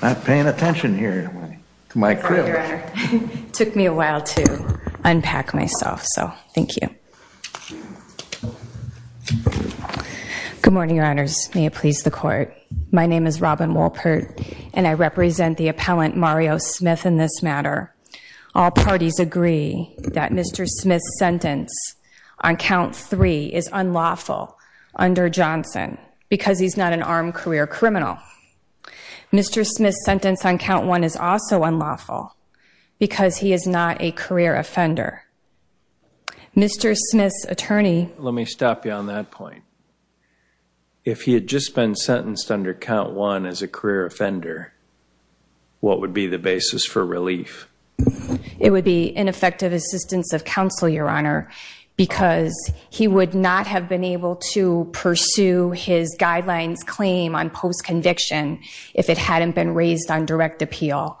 not paying attention here to my crew took me a while to unpack myself so thank you good morning your honors may it please the court my name is Robin Wolpert and I represent the appellant Mario Smith in this matter all parties agree that mr. Smith's sentence on count three is unlawful under Johnson because he's not an armed career criminal mr. Smith's sentence on count one is also unlawful because he is not a career offender mr. Smith's attorney let me stop you on that point if he had just been sentenced under count one as a career offender what would be the basis for relief it would be ineffective assistance of counsel your honor because he would not have been able to pursue his guidelines claim on post-conviction if it hadn't been raised on direct appeal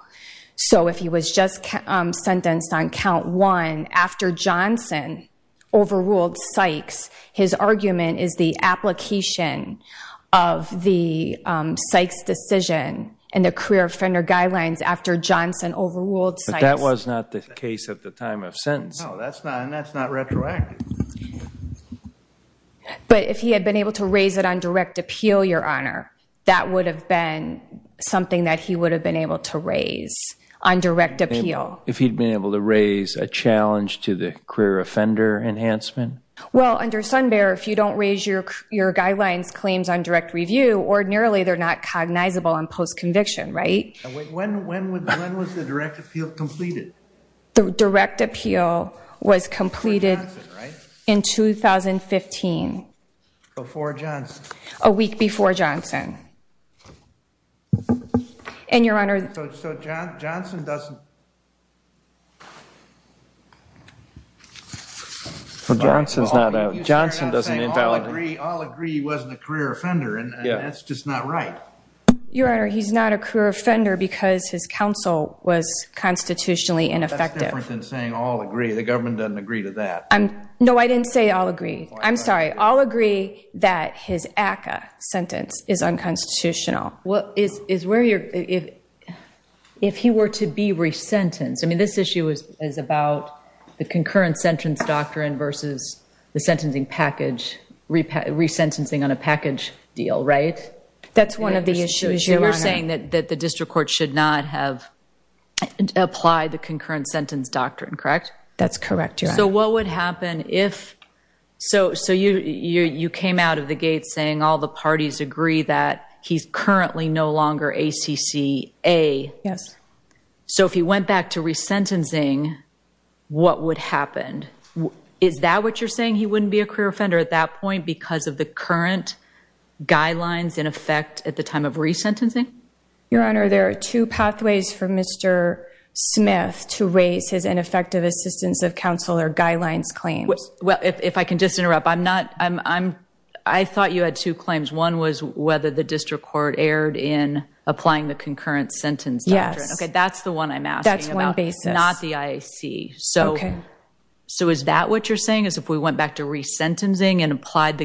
so if he was just sentenced on count one after Johnson overruled Sykes his argument is the application of the Sykes decision and the career offender guidelines after Johnson overruled that was not the case at the time of sentence but if he had been able to raise it on direct appeal your honor that would have been something that he would have been able to raise on direct appeal if he'd been able to raise a challenge to the career offender enhancement well under Sun Bear if you don't raise your your guidelines claims on direct review ordinarily they're not cognizable on post-conviction right when was the direct appeal was completed in 2015 before John's a week before Johnson and your honor Johnson's not out Johnson doesn't invalid agree wasn't a career offender and yeah that's just not right your honor he's not a career offender because his counsel was constitutionally ineffective saying all agree the government doesn't agree to that I'm no I didn't say I'll agree I'm sorry I'll agree that his ACA sentence is unconstitutional what is is where you're if if he were to be resentenced I mean this issue is is about the concurrent sentence doctrine versus the sentencing package repay resentencing on a package deal right that's one of the issues you were saying that that the district court should not have applied the concurrent sentence doctrine correct that's correct so what would happen if so so you you came out of the gate saying all the parties agree that he's currently no longer a CCA yes so if he went back to resentencing what would happen is that what you're saying he wouldn't be a career offender at that point because of the current guidelines in effect at the time of resentencing your honor there are two pathways for mr. Smith to raise his ineffective assistance of counselor guidelines claims well if I can just interrupt I'm not I'm I thought you had two claims one was whether the district court erred in applying the concurrent sentence yeah okay that's the one I'm asking that's one basis not the I see so okay so is that what you're saying is if we went back to resentencing and applied the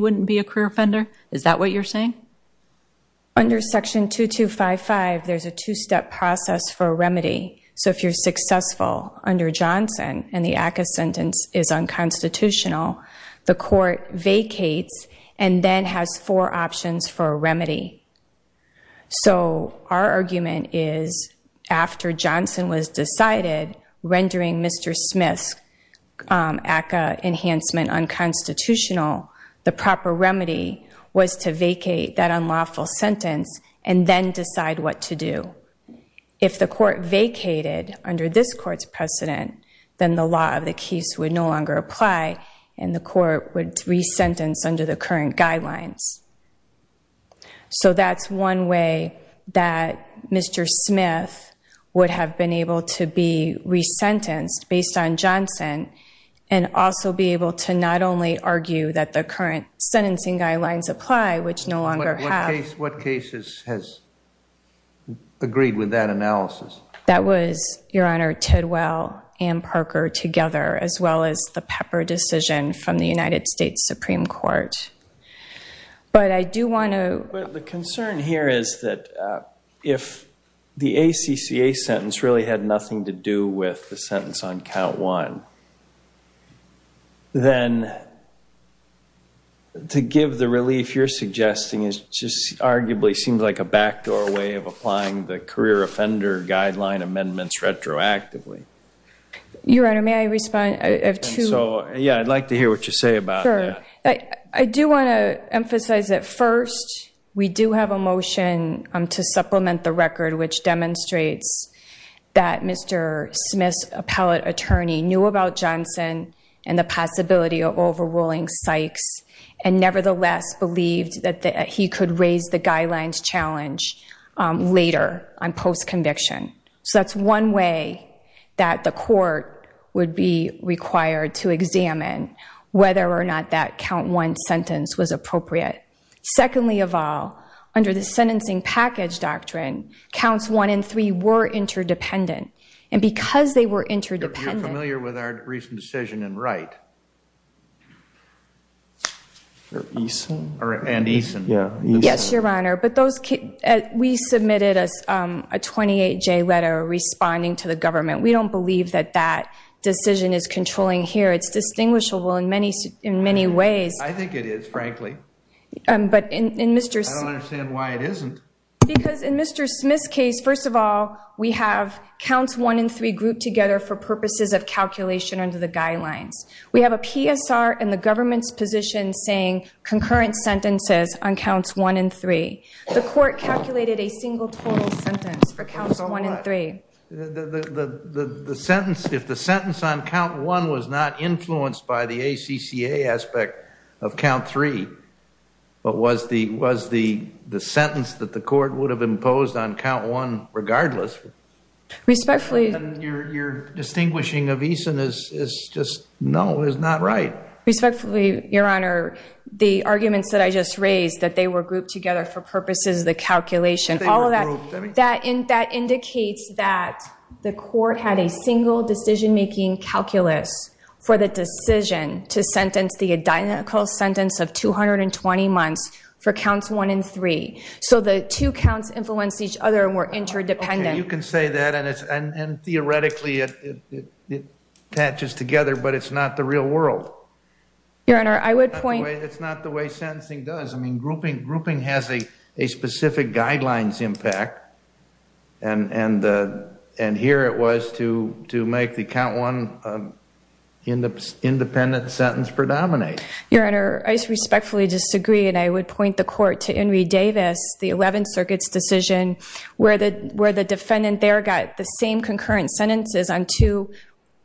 wouldn't be a career offender is that what you're saying under section 2255 there's a two-step process for a remedy so if you're successful under Johnson and the ACA sentence is unconstitutional the court vacates and then has four options for a remedy so our argument is after Johnson was decided rendering mr. Smith ACA enhancement unconstitutional the proper remedy was to vacate that unlawful sentence and then decide what to do if the court vacated under this court's precedent then the law of the case would no longer apply and the court would resentence under the current guidelines so that's one way that mr. Smith would have been able to be resentenced based on Johnson and also be able to not only argue that the current sentencing guidelines apply which no longer what cases has agreed with that analysis that was your honor Ted well and Parker together as well as the pepper decision from the United States Supreme Court but I do want to the concern here is that if the ACCA sentence really had nothing to do with the sentence on count one then to give the relief you're suggesting is just arguably seems like a backdoor way of applying the career offender guideline amendments retroactively your honor may respond so yeah I'd like to hear what you say about I do want to emphasize at first we do have a motion to supplement the record which demonstrates that mr. Smith appellate attorney knew about Johnson and the possibility of overruling Sykes and nevertheless believed that he could raise the guidelines challenge later on post conviction so that's one way that the required to examine whether or not that count one sentence was appropriate secondly of all under the sentencing package doctrine counts one and three were interdependent and because they were interdependent with our recent decision and right yes your honor but those kids we submitted us a 28 J letter responding to the government we don't believe that that decision is controlling here it's distinguishable in many in many ways I think it is frankly but in mr. Smith's case first of all we have counts one and three group together for purposes of calculation under the guidelines we have a PSR and the government's position saying concurrent sentences on counts one and three the the sentence if the sentence on count one was not influenced by the ACCA aspect of count three but was the was the the sentence that the court would have imposed on count one regardless respectfully you're distinguishing of Eason is just no is not right respectfully your honor the arguments that I just raised that they were grouped together for purposes the calculation all of that that in that indicates that the court had a single decision-making calculus for the decision to sentence the identical sentence of 220 months for counts one and three so the two counts influence each other more interdependent you can say that and it's and theoretically it catches together but it's not the real world your honor I would point it's not the way sentencing does I mean grouping grouping has a specific guidelines impact and and and here it was to to make the count one in the independent sentence predominate your honor I respectfully disagree and I would point the court to Henry Davis the Eleventh Circuit's decision where the where the defendant there got the same concurrent sentences on two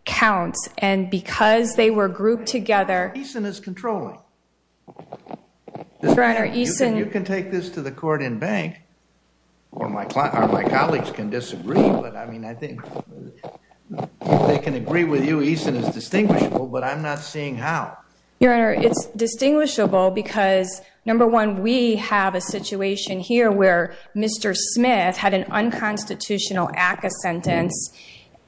counts and because they were grouped together Eason is controlling your honor Eason you can take this to the court in Bank or my client or my colleagues can disagree but I mean I think they can agree with you Eason is distinguishable but I'm not seeing how your honor it's distinguishable because number one we have a situation here where mr. Smith had an unconstitutional act a sentence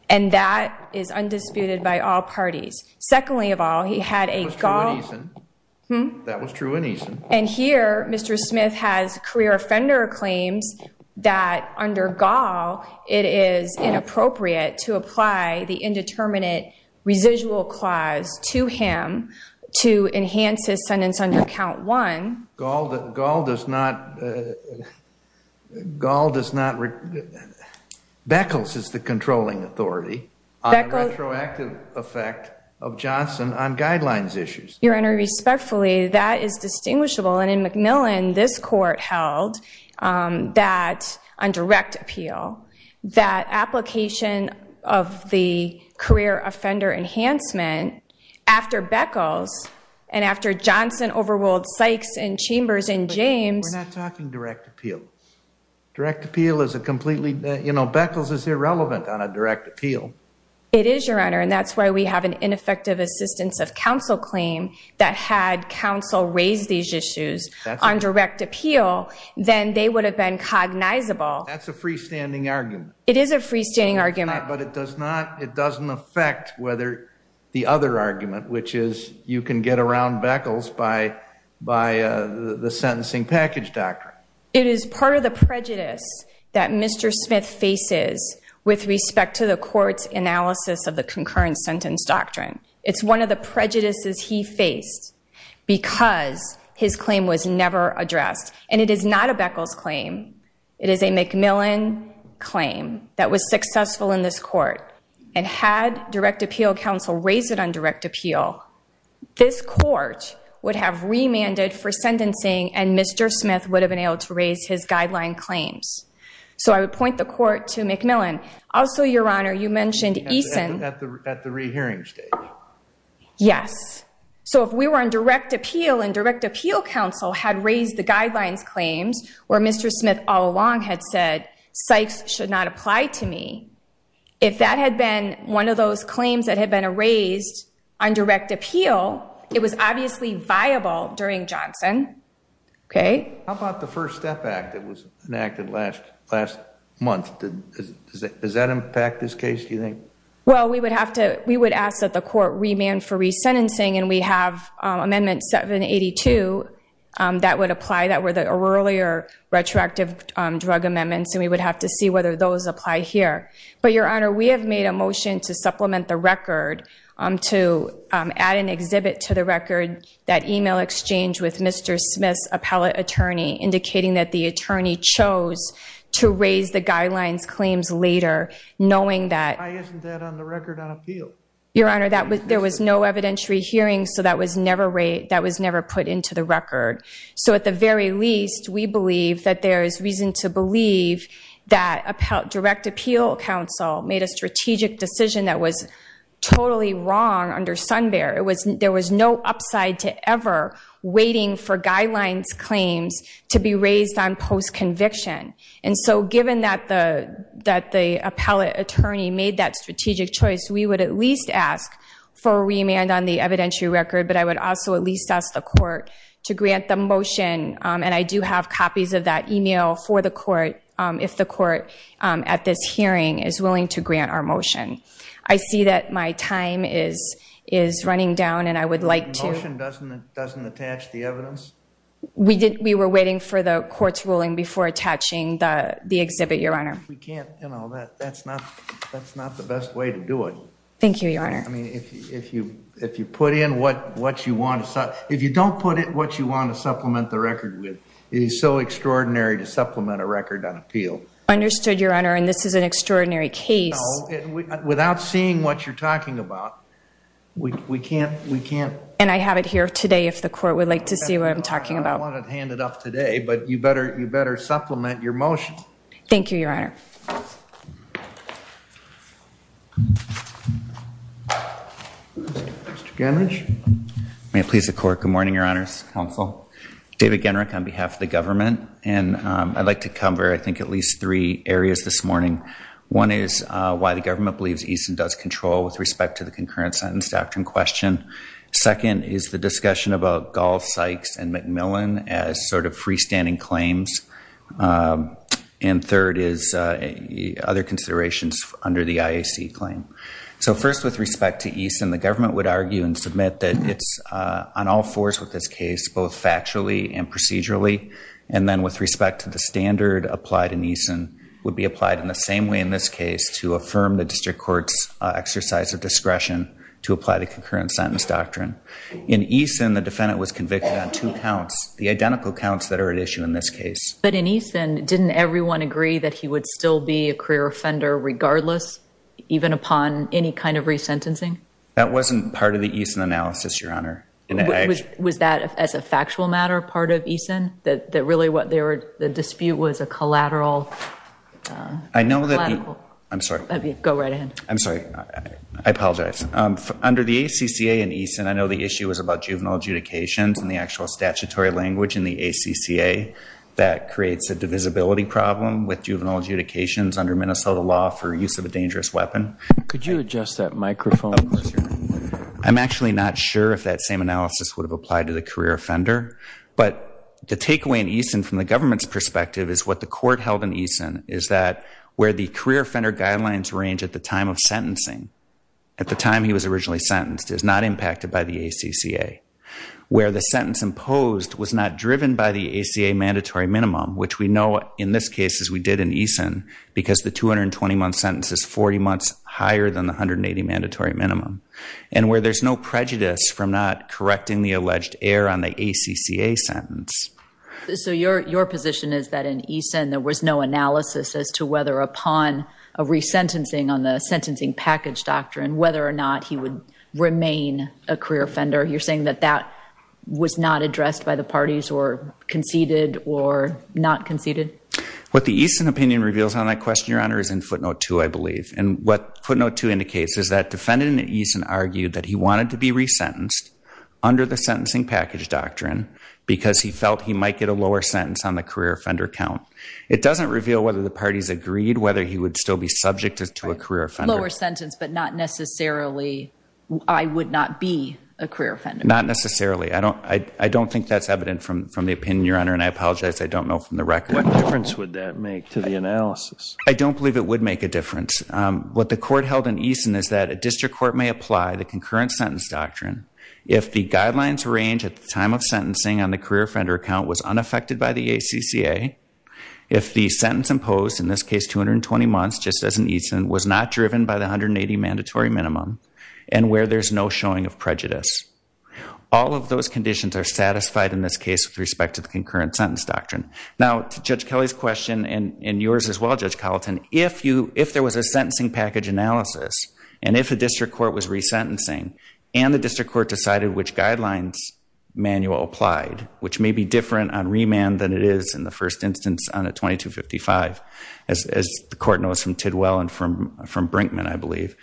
and that is undisputed by all parties secondly of all he had a golf that was true in Eason and here mr. Smith has career offender claims that under gall it is inappropriate to apply the indeterminate residual clause to him to enhance his sentence under count one gall that gall does not gall does not Beckles is the controlling authority effective effect of Johnson on guidelines issues your honor respectfully that is distinguishable and in Macmillan this court held that on direct appeal that application of the career offender enhancement after Beckles and after Johnson overruled Sykes and chambers in James we're not talking direct appeal direct appeal is a completely you know Beckles is irrelevant on a direct appeal it is your honor and that's why we have an ineffective assistance of counsel claim that had counsel raised these issues on direct appeal then they would have been cognizable that's a freestanding argument it is a freestanding argument but it does not it doesn't affect whether the other argument which is you can get around Beckles by by the sentencing package doctor it is part of the prejudice that mr. Smith faces with respect to the courts analysis of the concurrent sentence doctrine it's one of the prejudices he faced because his claim was never addressed and it is not a Beckles claim it is a Macmillan claim that was successful in this court and had direct appeal counsel raised it on appeal this court would have remanded for sentencing and mr. Smith would have been able to raise his guideline claims so I would point the court to Macmillan also your honor you mentioned Eason at the rehearing stage yes so if we were on direct appeal and direct appeal counsel had raised the guidelines claims where mr. Smith all along had said Sykes should not apply to me if that had been one of those claims that had been erased on direct appeal it was obviously viable during Johnson okay how about the first step back that was enacted last last month does that impact this case do you think well we would have to we would ask that the court remand for resentencing and we have amendment 782 that would apply that were the earlier retroactive drug amendments and we would have to see whether those apply here but your honor we have made a motion to supplement the record to add an exhibit to the record that email exchange with mr. Smith's appellate attorney indicating that the attorney chose to raise the guidelines claims later knowing that your honor that was there was no evidentiary hearing so that was never rate that was never put into the record so at the very least we believe that there is reason to believe that a direct appeal counsel made a strategic decision that was totally wrong under Sun Bear it was there was no upside to ever waiting for guidelines claims to be raised on post conviction and so given that the that the appellate attorney made that strategic choice we would at least ask for a remand on the evidentiary record but I would also at least ask the court to grant the motion and I do have copies of that email for the court if the court at this hearing is willing to grant our motion I see that my time is is running down and I would like to we did we were waiting for the court's ruling before attaching the the exhibit your honor we can't you know that that's not that's not the best way to do it thank you your honor I mean if you if you put in what what you want to stop if you don't put it what you want to supplement the record with it is so extraordinary to supplement a record on appeal understood your honor and this is an extraordinary case without seeing what you're talking about we can't we can't and I have it here today if the court would like to see what I'm talking about hand it up today but you better you better supplement your motion thank you Mr. Genrich. May it please the court good morning your honors counsel David Genrich on behalf of the government and I'd like to cover I think at least three areas this morning one is why the government believes Eason does control with respect to the concurrent sentence doctrine question second is the discussion about golf Sykes and Macmillan as sort of freestanding claims and third is other considerations under the IAC claim so first with respect to Eason the government would argue and submit that it's on all fours with this case both factually and procedurally and then with respect to the standard applied in Eason would be applied in the same way in this case to affirm the district courts exercise of discretion to apply the concurrent sentence doctrine in Eason the defendant was convicted on two counts that are at issue in this case but in Eason didn't everyone agree that he would still be a career offender regardless even upon any kind of resentencing that wasn't part of the Eason analysis your honor was that as a factual matter part of Eason that really what they were the dispute was a collateral I know that I'm sorry go right in I'm sorry I apologize under the ACCA and Eason I know the issue was about juvenile adjudications and the ACCA that creates a divisibility problem with juvenile adjudications under Minnesota law for use of a dangerous weapon could you adjust that microphone I'm actually not sure if that same analysis would have applied to the career offender but the takeaway in Eason from the government's perspective is what the court held in Eason is that where the career offender guidelines range at the time of sentencing at the time he was originally sentenced is not driven by the ACA mandatory minimum which we know in this case as we did in Eason because the 220 month sentence is 40 months higher than the 180 mandatory minimum and where there's no prejudice from not correcting the alleged error on the ACCA sentence so your your position is that in Eason there was no analysis as to whether upon a resentencing on the sentencing package doctrine whether or not he would remain a career offender you're saying that that was not addressed by the parties or conceded or not conceded what the Eason opinion reveals on that question your honor is in footnote 2 I believe and what footnote 2 indicates is that defendant in Eason argued that he wanted to be resentenced under the sentencing package doctrine because he felt he might get a lower sentence on the career offender count it doesn't reveal whether the parties agreed whether he would still be subject to a career offender lower sentence but not necessarily I would not be a career offender not necessarily I don't I don't think that's evident from from the opinion your honor and I apologize I don't know from the record what difference would that make to the analysis I don't believe it would make a difference what the court held in Eason is that a district court may apply the concurrent sentence doctrine if the guidelines range at the time of sentencing on the career offender account was unaffected by the ACCA if the sentence imposed in this case 220 months just as an Eason was not driven by the 180 mandatory minimum and where there's no showing of prejudice all of those conditions are satisfied in this case with respect to the concurrent sentence doctrine now to judge Kelly's question and in yours as well judge Carlton if you if there was a sentencing package analysis and if a district court was resentencing and the district court decided which guidelines manual applied which may be different on remand than it is in the first instance on a 2255 as the court knows from Tidwell and from Brinkman I believe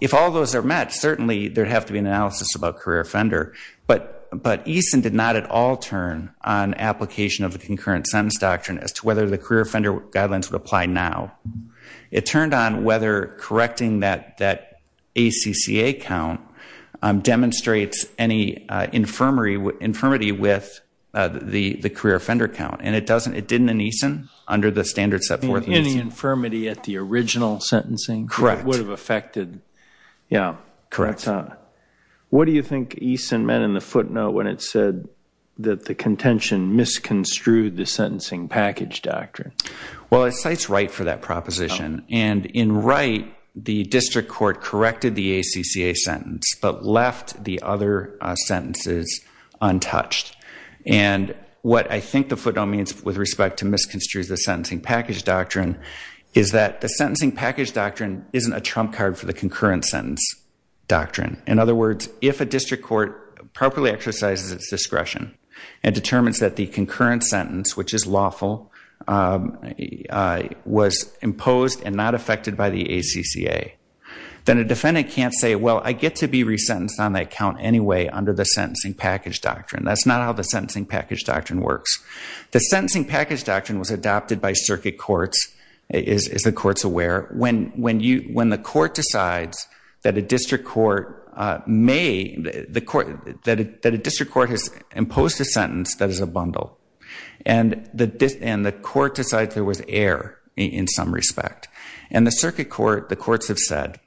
if all those are met certainly there'd have to be an analysis about career offender but but Eason did not at all turn on application of the concurrent sentence doctrine as to whether the career offender guidelines would apply now it turned on whether correcting that that ACCA count demonstrates any infirmary with infirmity with the the career offender count and it doesn't it didn't an Eason under the standard set forth any infirmity at the original sentencing correct would have affected yeah correct huh what do you think Eason meant in the footnote when it said that the contention misconstrued the sentencing package doctrine well it cites right for that proposition and in right the district court corrected the ACCA sentence but left the other sentences untouched and what I think the footnote means with respect to misconstrued the sentencing package doctrine is that the sentencing package doctrine isn't a trump card for the concurrent sentence doctrine in other words if a district court properly exercises its discretion and determines that the concurrent sentence which is lawful was imposed and not affected by the ACCA then a defendant can't say well I get to be resentenced on that count anyway under the sentencing package doctrine that's sentencing package doctrine was adopted by circuit courts is the courts aware when when you when the court decides that a district court may the court that a district court has imposed a sentence that is a bundle and that this and the court decides there was air in some respect and the circuit court the courts have said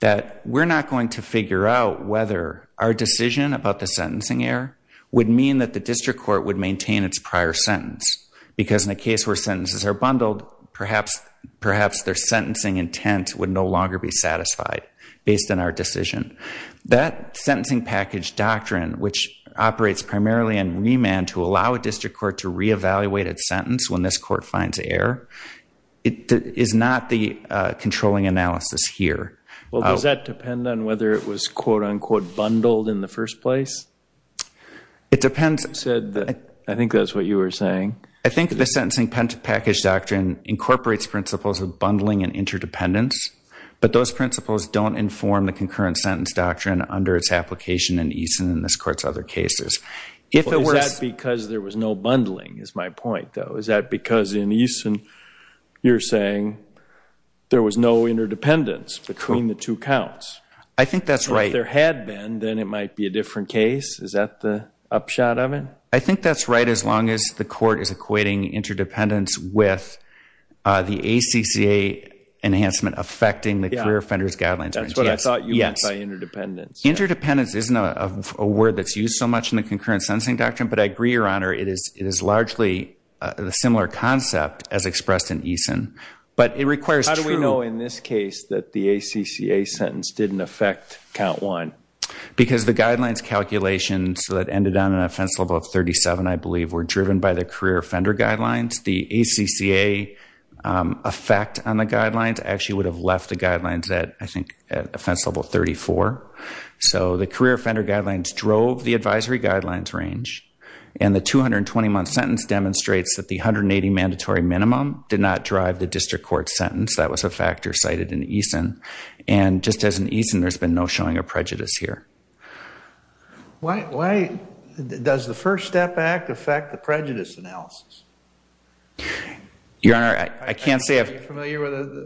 that we're not going to figure out whether our decision about the sentencing air would mean that the district court would maintain its prior sentence because in a case where sentences are bundled perhaps perhaps their sentencing intent would no longer be satisfied based on our decision that sentencing package doctrine which operates primarily in remand to allow a district court to reevaluate its sentence when this court finds air it is not the controlling analysis here well does that depend on whether it was quote-unquote bundled in the first place it depends said that I think that's what you were saying I think the sentencing pen to package doctrine incorporates principles of bundling and interdependence but those principles don't inform the concurrent sentence doctrine under its application and Eason in this courts other cases if it was because there was no bundling is my point though is that because in Eason you're saying there was no interdependence between the two counts I think that's right there had been then it might be a different case is that the upshot of it I think that's right as the court is equating interdependence with the ACCA enhancement affecting the career offenders guidelines that's what I thought yes I interdependence interdependence isn't a word that's used so much in the concurrent sensing doctrine but I agree your honor it is it is largely the similar concept as expressed in Eason but it requires how do we know in this case that the ACCA sentence didn't affect count one because the guidelines calculations that ended on an offense level of 37 I believe were driven by the career offender guidelines the ACCA effect on the guidelines actually would have left the guidelines that I think offense level 34 so the career offender guidelines drove the advisory guidelines range and the 220 month sentence demonstrates that the 180 mandatory minimum did not drive the district court sentence that was a factor cited in Eason and just as an Eason there's been no showing of does the First Step Act affect the prejudice analysis your honor I can't say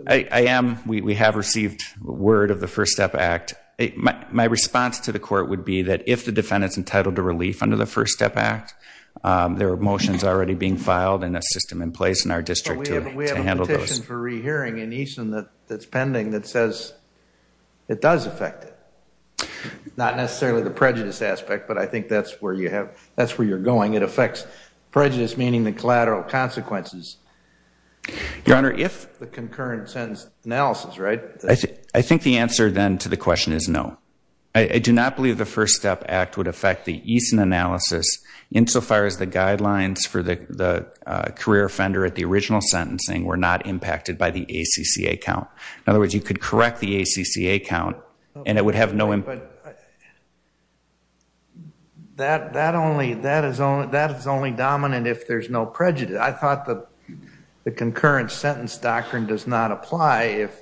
I am we have received word of the First Step Act my response to the court would be that if the defendants entitled to relief under the First Step Act there were motions already being filed in a system in place in our district handle those for re-hearing in Eason that that's pending that says it does affect it not necessarily the prejudice aspect but I think that's where you have that's where you're going it affects prejudice meaning the collateral consequences your honor if the concurrent sentence analysis right I think I think the answer then to the question is no I do not believe the First Step Act would affect the Eason analysis insofar as the guidelines for the the career offender at the original sentencing were not impacted by the ACCA account in other words you could correct the ACCA account and it would have no but that that only that is only that is only dominant if there's no prejudice I thought that the concurrent sentence doctrine does not apply if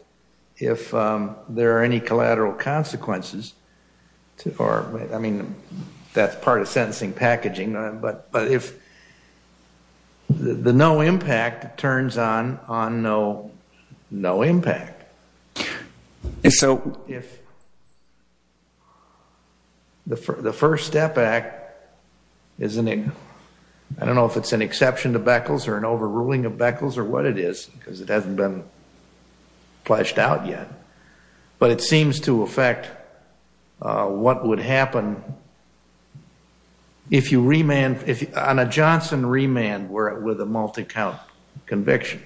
if there are any collateral consequences or I mean that's part of sentencing packaging but if the no impact turns on on no no impact so if the First Step Act isn't it I don't know if it's an exception to Beckles or an overruling of Beckles or what it is because it hasn't been fleshed out yet but it seems to affect what would happen if you remand if you on a Johnson remand were it with a multi-count conviction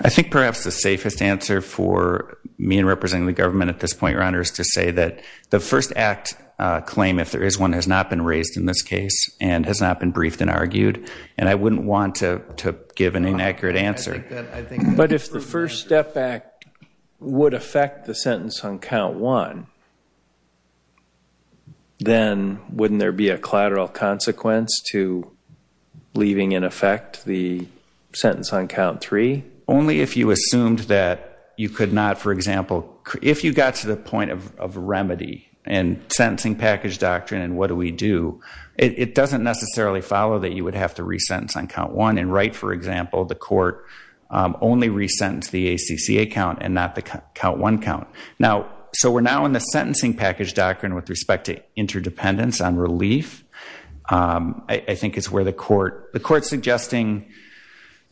I think perhaps the safest answer for me and representing the government at this point runners to say that the first act claim if there is one has not been raised in this case and has not been briefed and argued and I wouldn't want to give an inaccurate answer but if the then wouldn't there be a collateral consequence to leaving in effect the sentence on count three only if you assumed that you could not for example if you got to the point of remedy and sentencing package doctrine and what do we do it doesn't necessarily follow that you would have to resentence on count one and right for example the court only resentence the ACCA account and not the count one count now so we're now in the sentencing package doctrine with respect to interdependence on relief I think it's where the court the court suggesting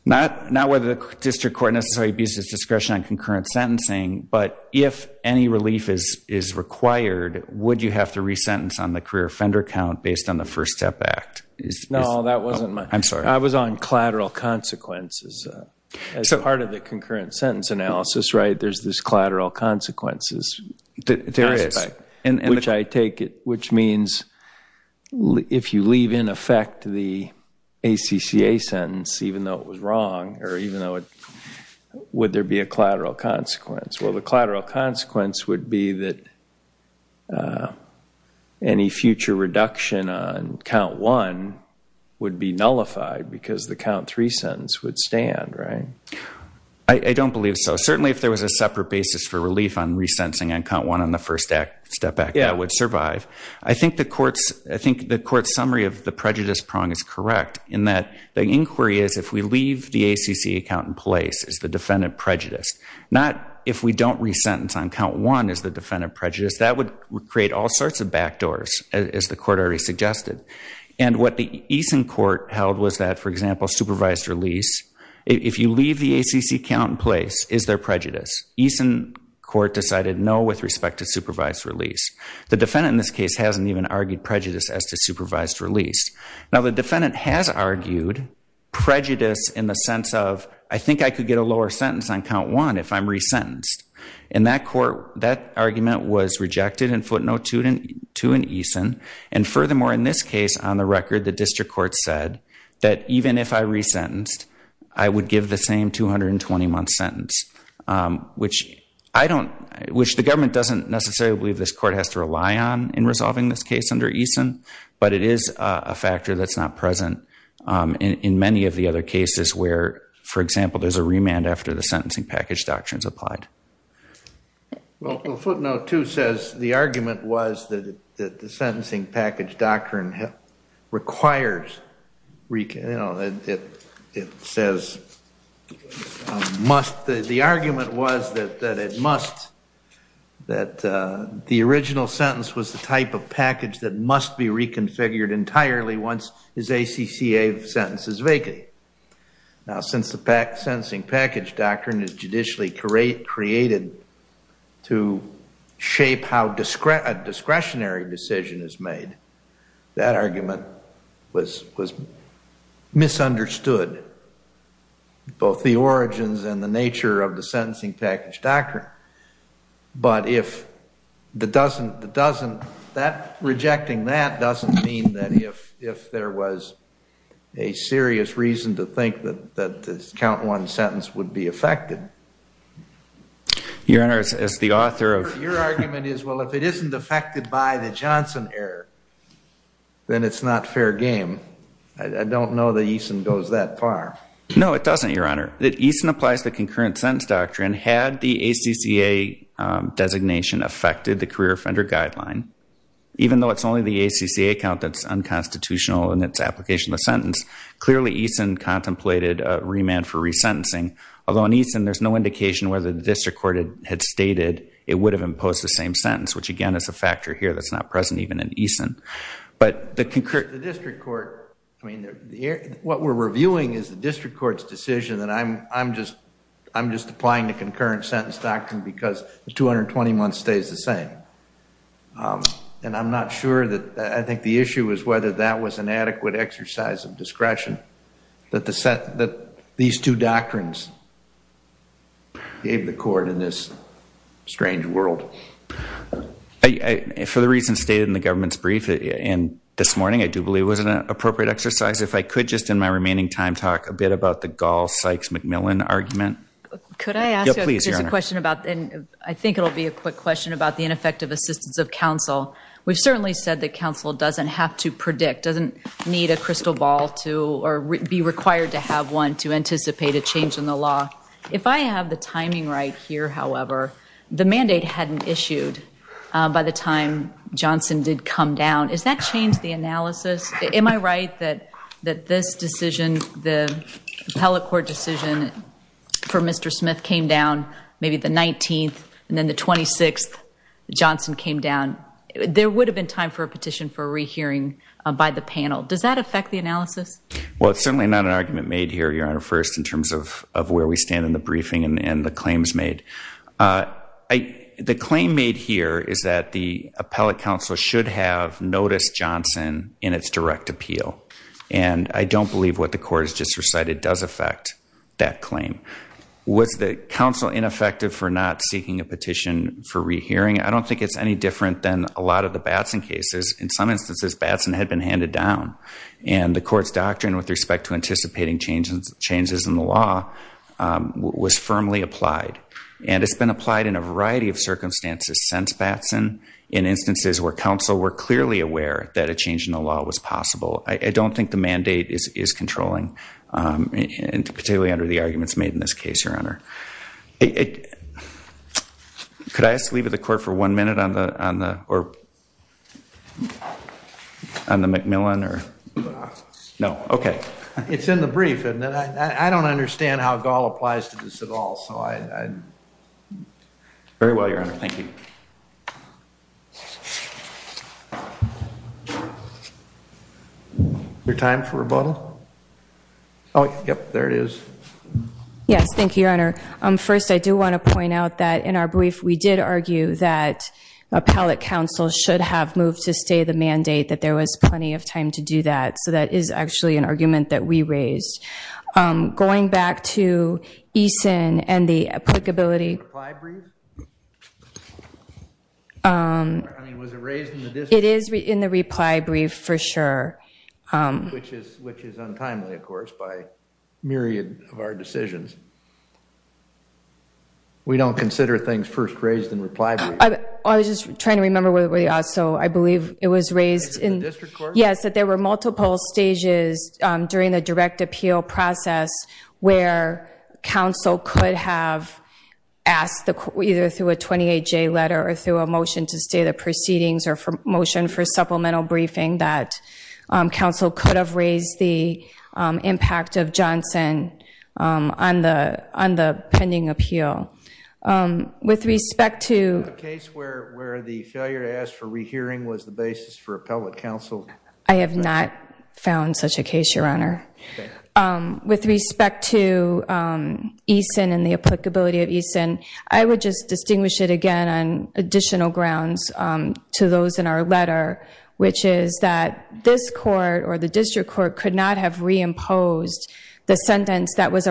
not not whether the district court necessarily abuses discretion on concurrent sentencing but if any relief is is required would you have to resentence on the career offender count based on the First Step Act is no that wasn't my I'm sorry I was on collateral consequences so part of the concurrent sentence analysis right there's this collateral consequences and which I take it which means if you leave in effect the ACCA sentence even though it was wrong or even though it would there be a collateral consequence well the collateral consequence would be that any future reduction on count one would be believe so certainly if there was a separate basis for relief on resentencing on count one on the First Act Step Act yeah would survive I think the courts I think the court summary of the prejudice prong is correct in that the inquiry is if we leave the ACC account in place is the defendant prejudiced not if we don't resentence on count one is the defendant prejudice that would create all sorts of backdoors as the court already suggested and what the Eason court held was that for example supervised release if you leave the ACC count in place is there prejudice Eason court decided no with respect to supervised release the defendant in this case hasn't even argued prejudice as to supervised release now the defendant has argued prejudice in the sense of I think I could get a lower sentence on count one if I'm resentenced in that court that argument was rejected and footnote student to an Eason and furthermore in this case on the record the district court said that even if I resentenced I would give the same 220 month sentence which I don't wish the government doesn't necessarily believe this court has to rely on in resolving this case under Eason but it is a factor that's not present in many of the other cases where for example there's a remand after the sentencing package doctrines applied well footnote 2 says the argument was that the sentencing package doctrine requires recap it says must the argument was that it must that the original sentence was the type of package that must be reconfigured entirely once is a CCA sentences vacant now since the pack sentencing package doctrine is judicially create created to shape how discredit discretionary decision is made that argument was was misunderstood both the origins and the nature of the sentencing package doctrine but if that doesn't that doesn't that rejecting that doesn't mean that if if there was a serious reason to think that that this one sentence would be affected your honors as the author of your argument is well if it isn't affected by the Johnson error then it's not fair game I don't know that Eason goes that far no it doesn't your honor that Eason applies the concurrent sentence doctrine had the ACCA designation affected the career offender guideline even though it's only the ACCA count that's unconstitutional and its application the sentence clearly Eason contemplated remand for resentencing although in Eason there's no indication whether the district court had stated it would have imposed the same sentence which again is a factor here that's not present even in Eason but the district court I mean what we're reviewing is the district courts decision that I'm I'm just I'm just applying the concurrent sentence doctrine because the 220 months stays the same and I'm not sure that I think the issue is whether that was an these two doctrines gave the court in this strange world I for the reason stated in the government's brief and this morning I do believe was an appropriate exercise if I could just in my remaining time talk a bit about the gall Sykes McMillan argument I think it'll be a quick question about the ineffective assistance of counsel we've certainly said that counsel doesn't have to predict doesn't need a crystal ball to or be required to have one to anticipate a change in the law if I have the timing right here however the mandate hadn't issued by the time Johnson did come down is that changed the analysis am I right that that this decision the appellate court decision for mr. Smith came down maybe the 19th and then the 26th Johnson came down there would have been time for a petition for a rehearing by the panel does that affect the analysis well it's certainly not an argument made here your honor first in terms of of where we stand in the briefing and the claims made I the claim made here is that the appellate counsel should have noticed Johnson in its direct appeal and I don't believe what the court has just recited does affect that claim was the council ineffective for not seeking a petition for cases in some instances Batson had been handed down and the court's doctrine with respect to anticipating changes changes in the law was firmly applied and it's been applied in a variety of circumstances since Batson in instances where counsel were clearly aware that a change in the law was possible I don't think the mandate is controlling and particularly under the arguments made in this case your honor it could I ask to leave at the court for one minute on the or on the Macmillan or no okay it's in the brief and I don't understand how Gall applies to this at all so I very well your honor thank you your time for rebuttal oh yep there it is yes thank you your honor um first I do want to counsel should have moved to stay the mandate that there was plenty of time to do that so that is actually an argument that we raised going back to Eason and the applicability it is in the reply brief for sure which is which is untimely of course by myriad of our decisions we don't consider things first I was just trying to remember where we are so I believe it was raised in yes that there were multiple stages during the direct appeal process where counsel could have asked the court either through a 28 J letter or through a motion to stay the proceedings or for motion for supplemental briefing that counsel could have raised the impact of Johnson on the on the pending appeal with respect to the case where where the failure to ask for rehearing was the basis for appellate counsel I have not found such a case your honor with respect to Eason and the applicability of Eason I would just distinguish it again on additional grounds to those in our letter which is that this court or the district court could not have reimposed the sentence that was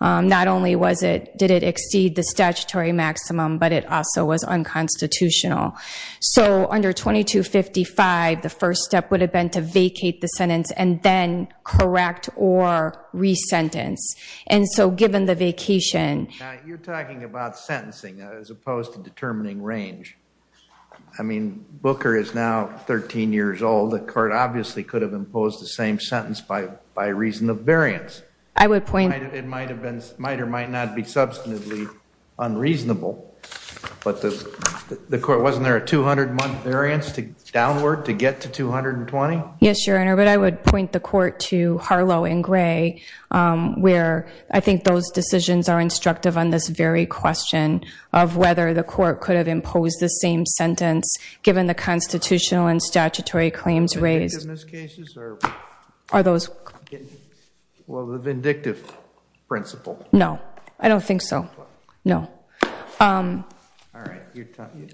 not only was it did it exceed the statutory maximum but it also was unconstitutional so under 2255 the first step would have been to vacate the sentence and then correct or resentence and so given the vacation you're talking about sentencing as opposed to determining range I mean Booker is now 13 years old the court obviously could have imposed the same sentence by by reason of variance I would point it might have been might or might not be substantively unreasonable but the court wasn't there a 200 month variance to downward to get to 220 yes your honor but I would point the court to Harlow and gray where I think those decisions are instructive on this very question of whether the court could have imposed the same sentence given the constitutional and statutory claims raised are those well the vindictive principle no I don't think so no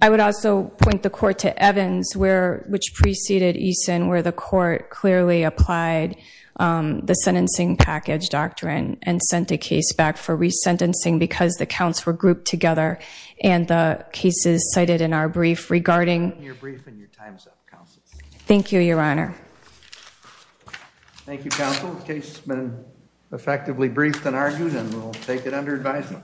I would also point the court to Evans where which preceded Eason where the court clearly applied the sentencing package doctrine and sent a case back for resentencing because the counts were grouped together and the cases cited in our brief regarding your brief and your time's up counsel thank you your honor thank you counsel case has been effectively briefed and argued and we'll take it under advisement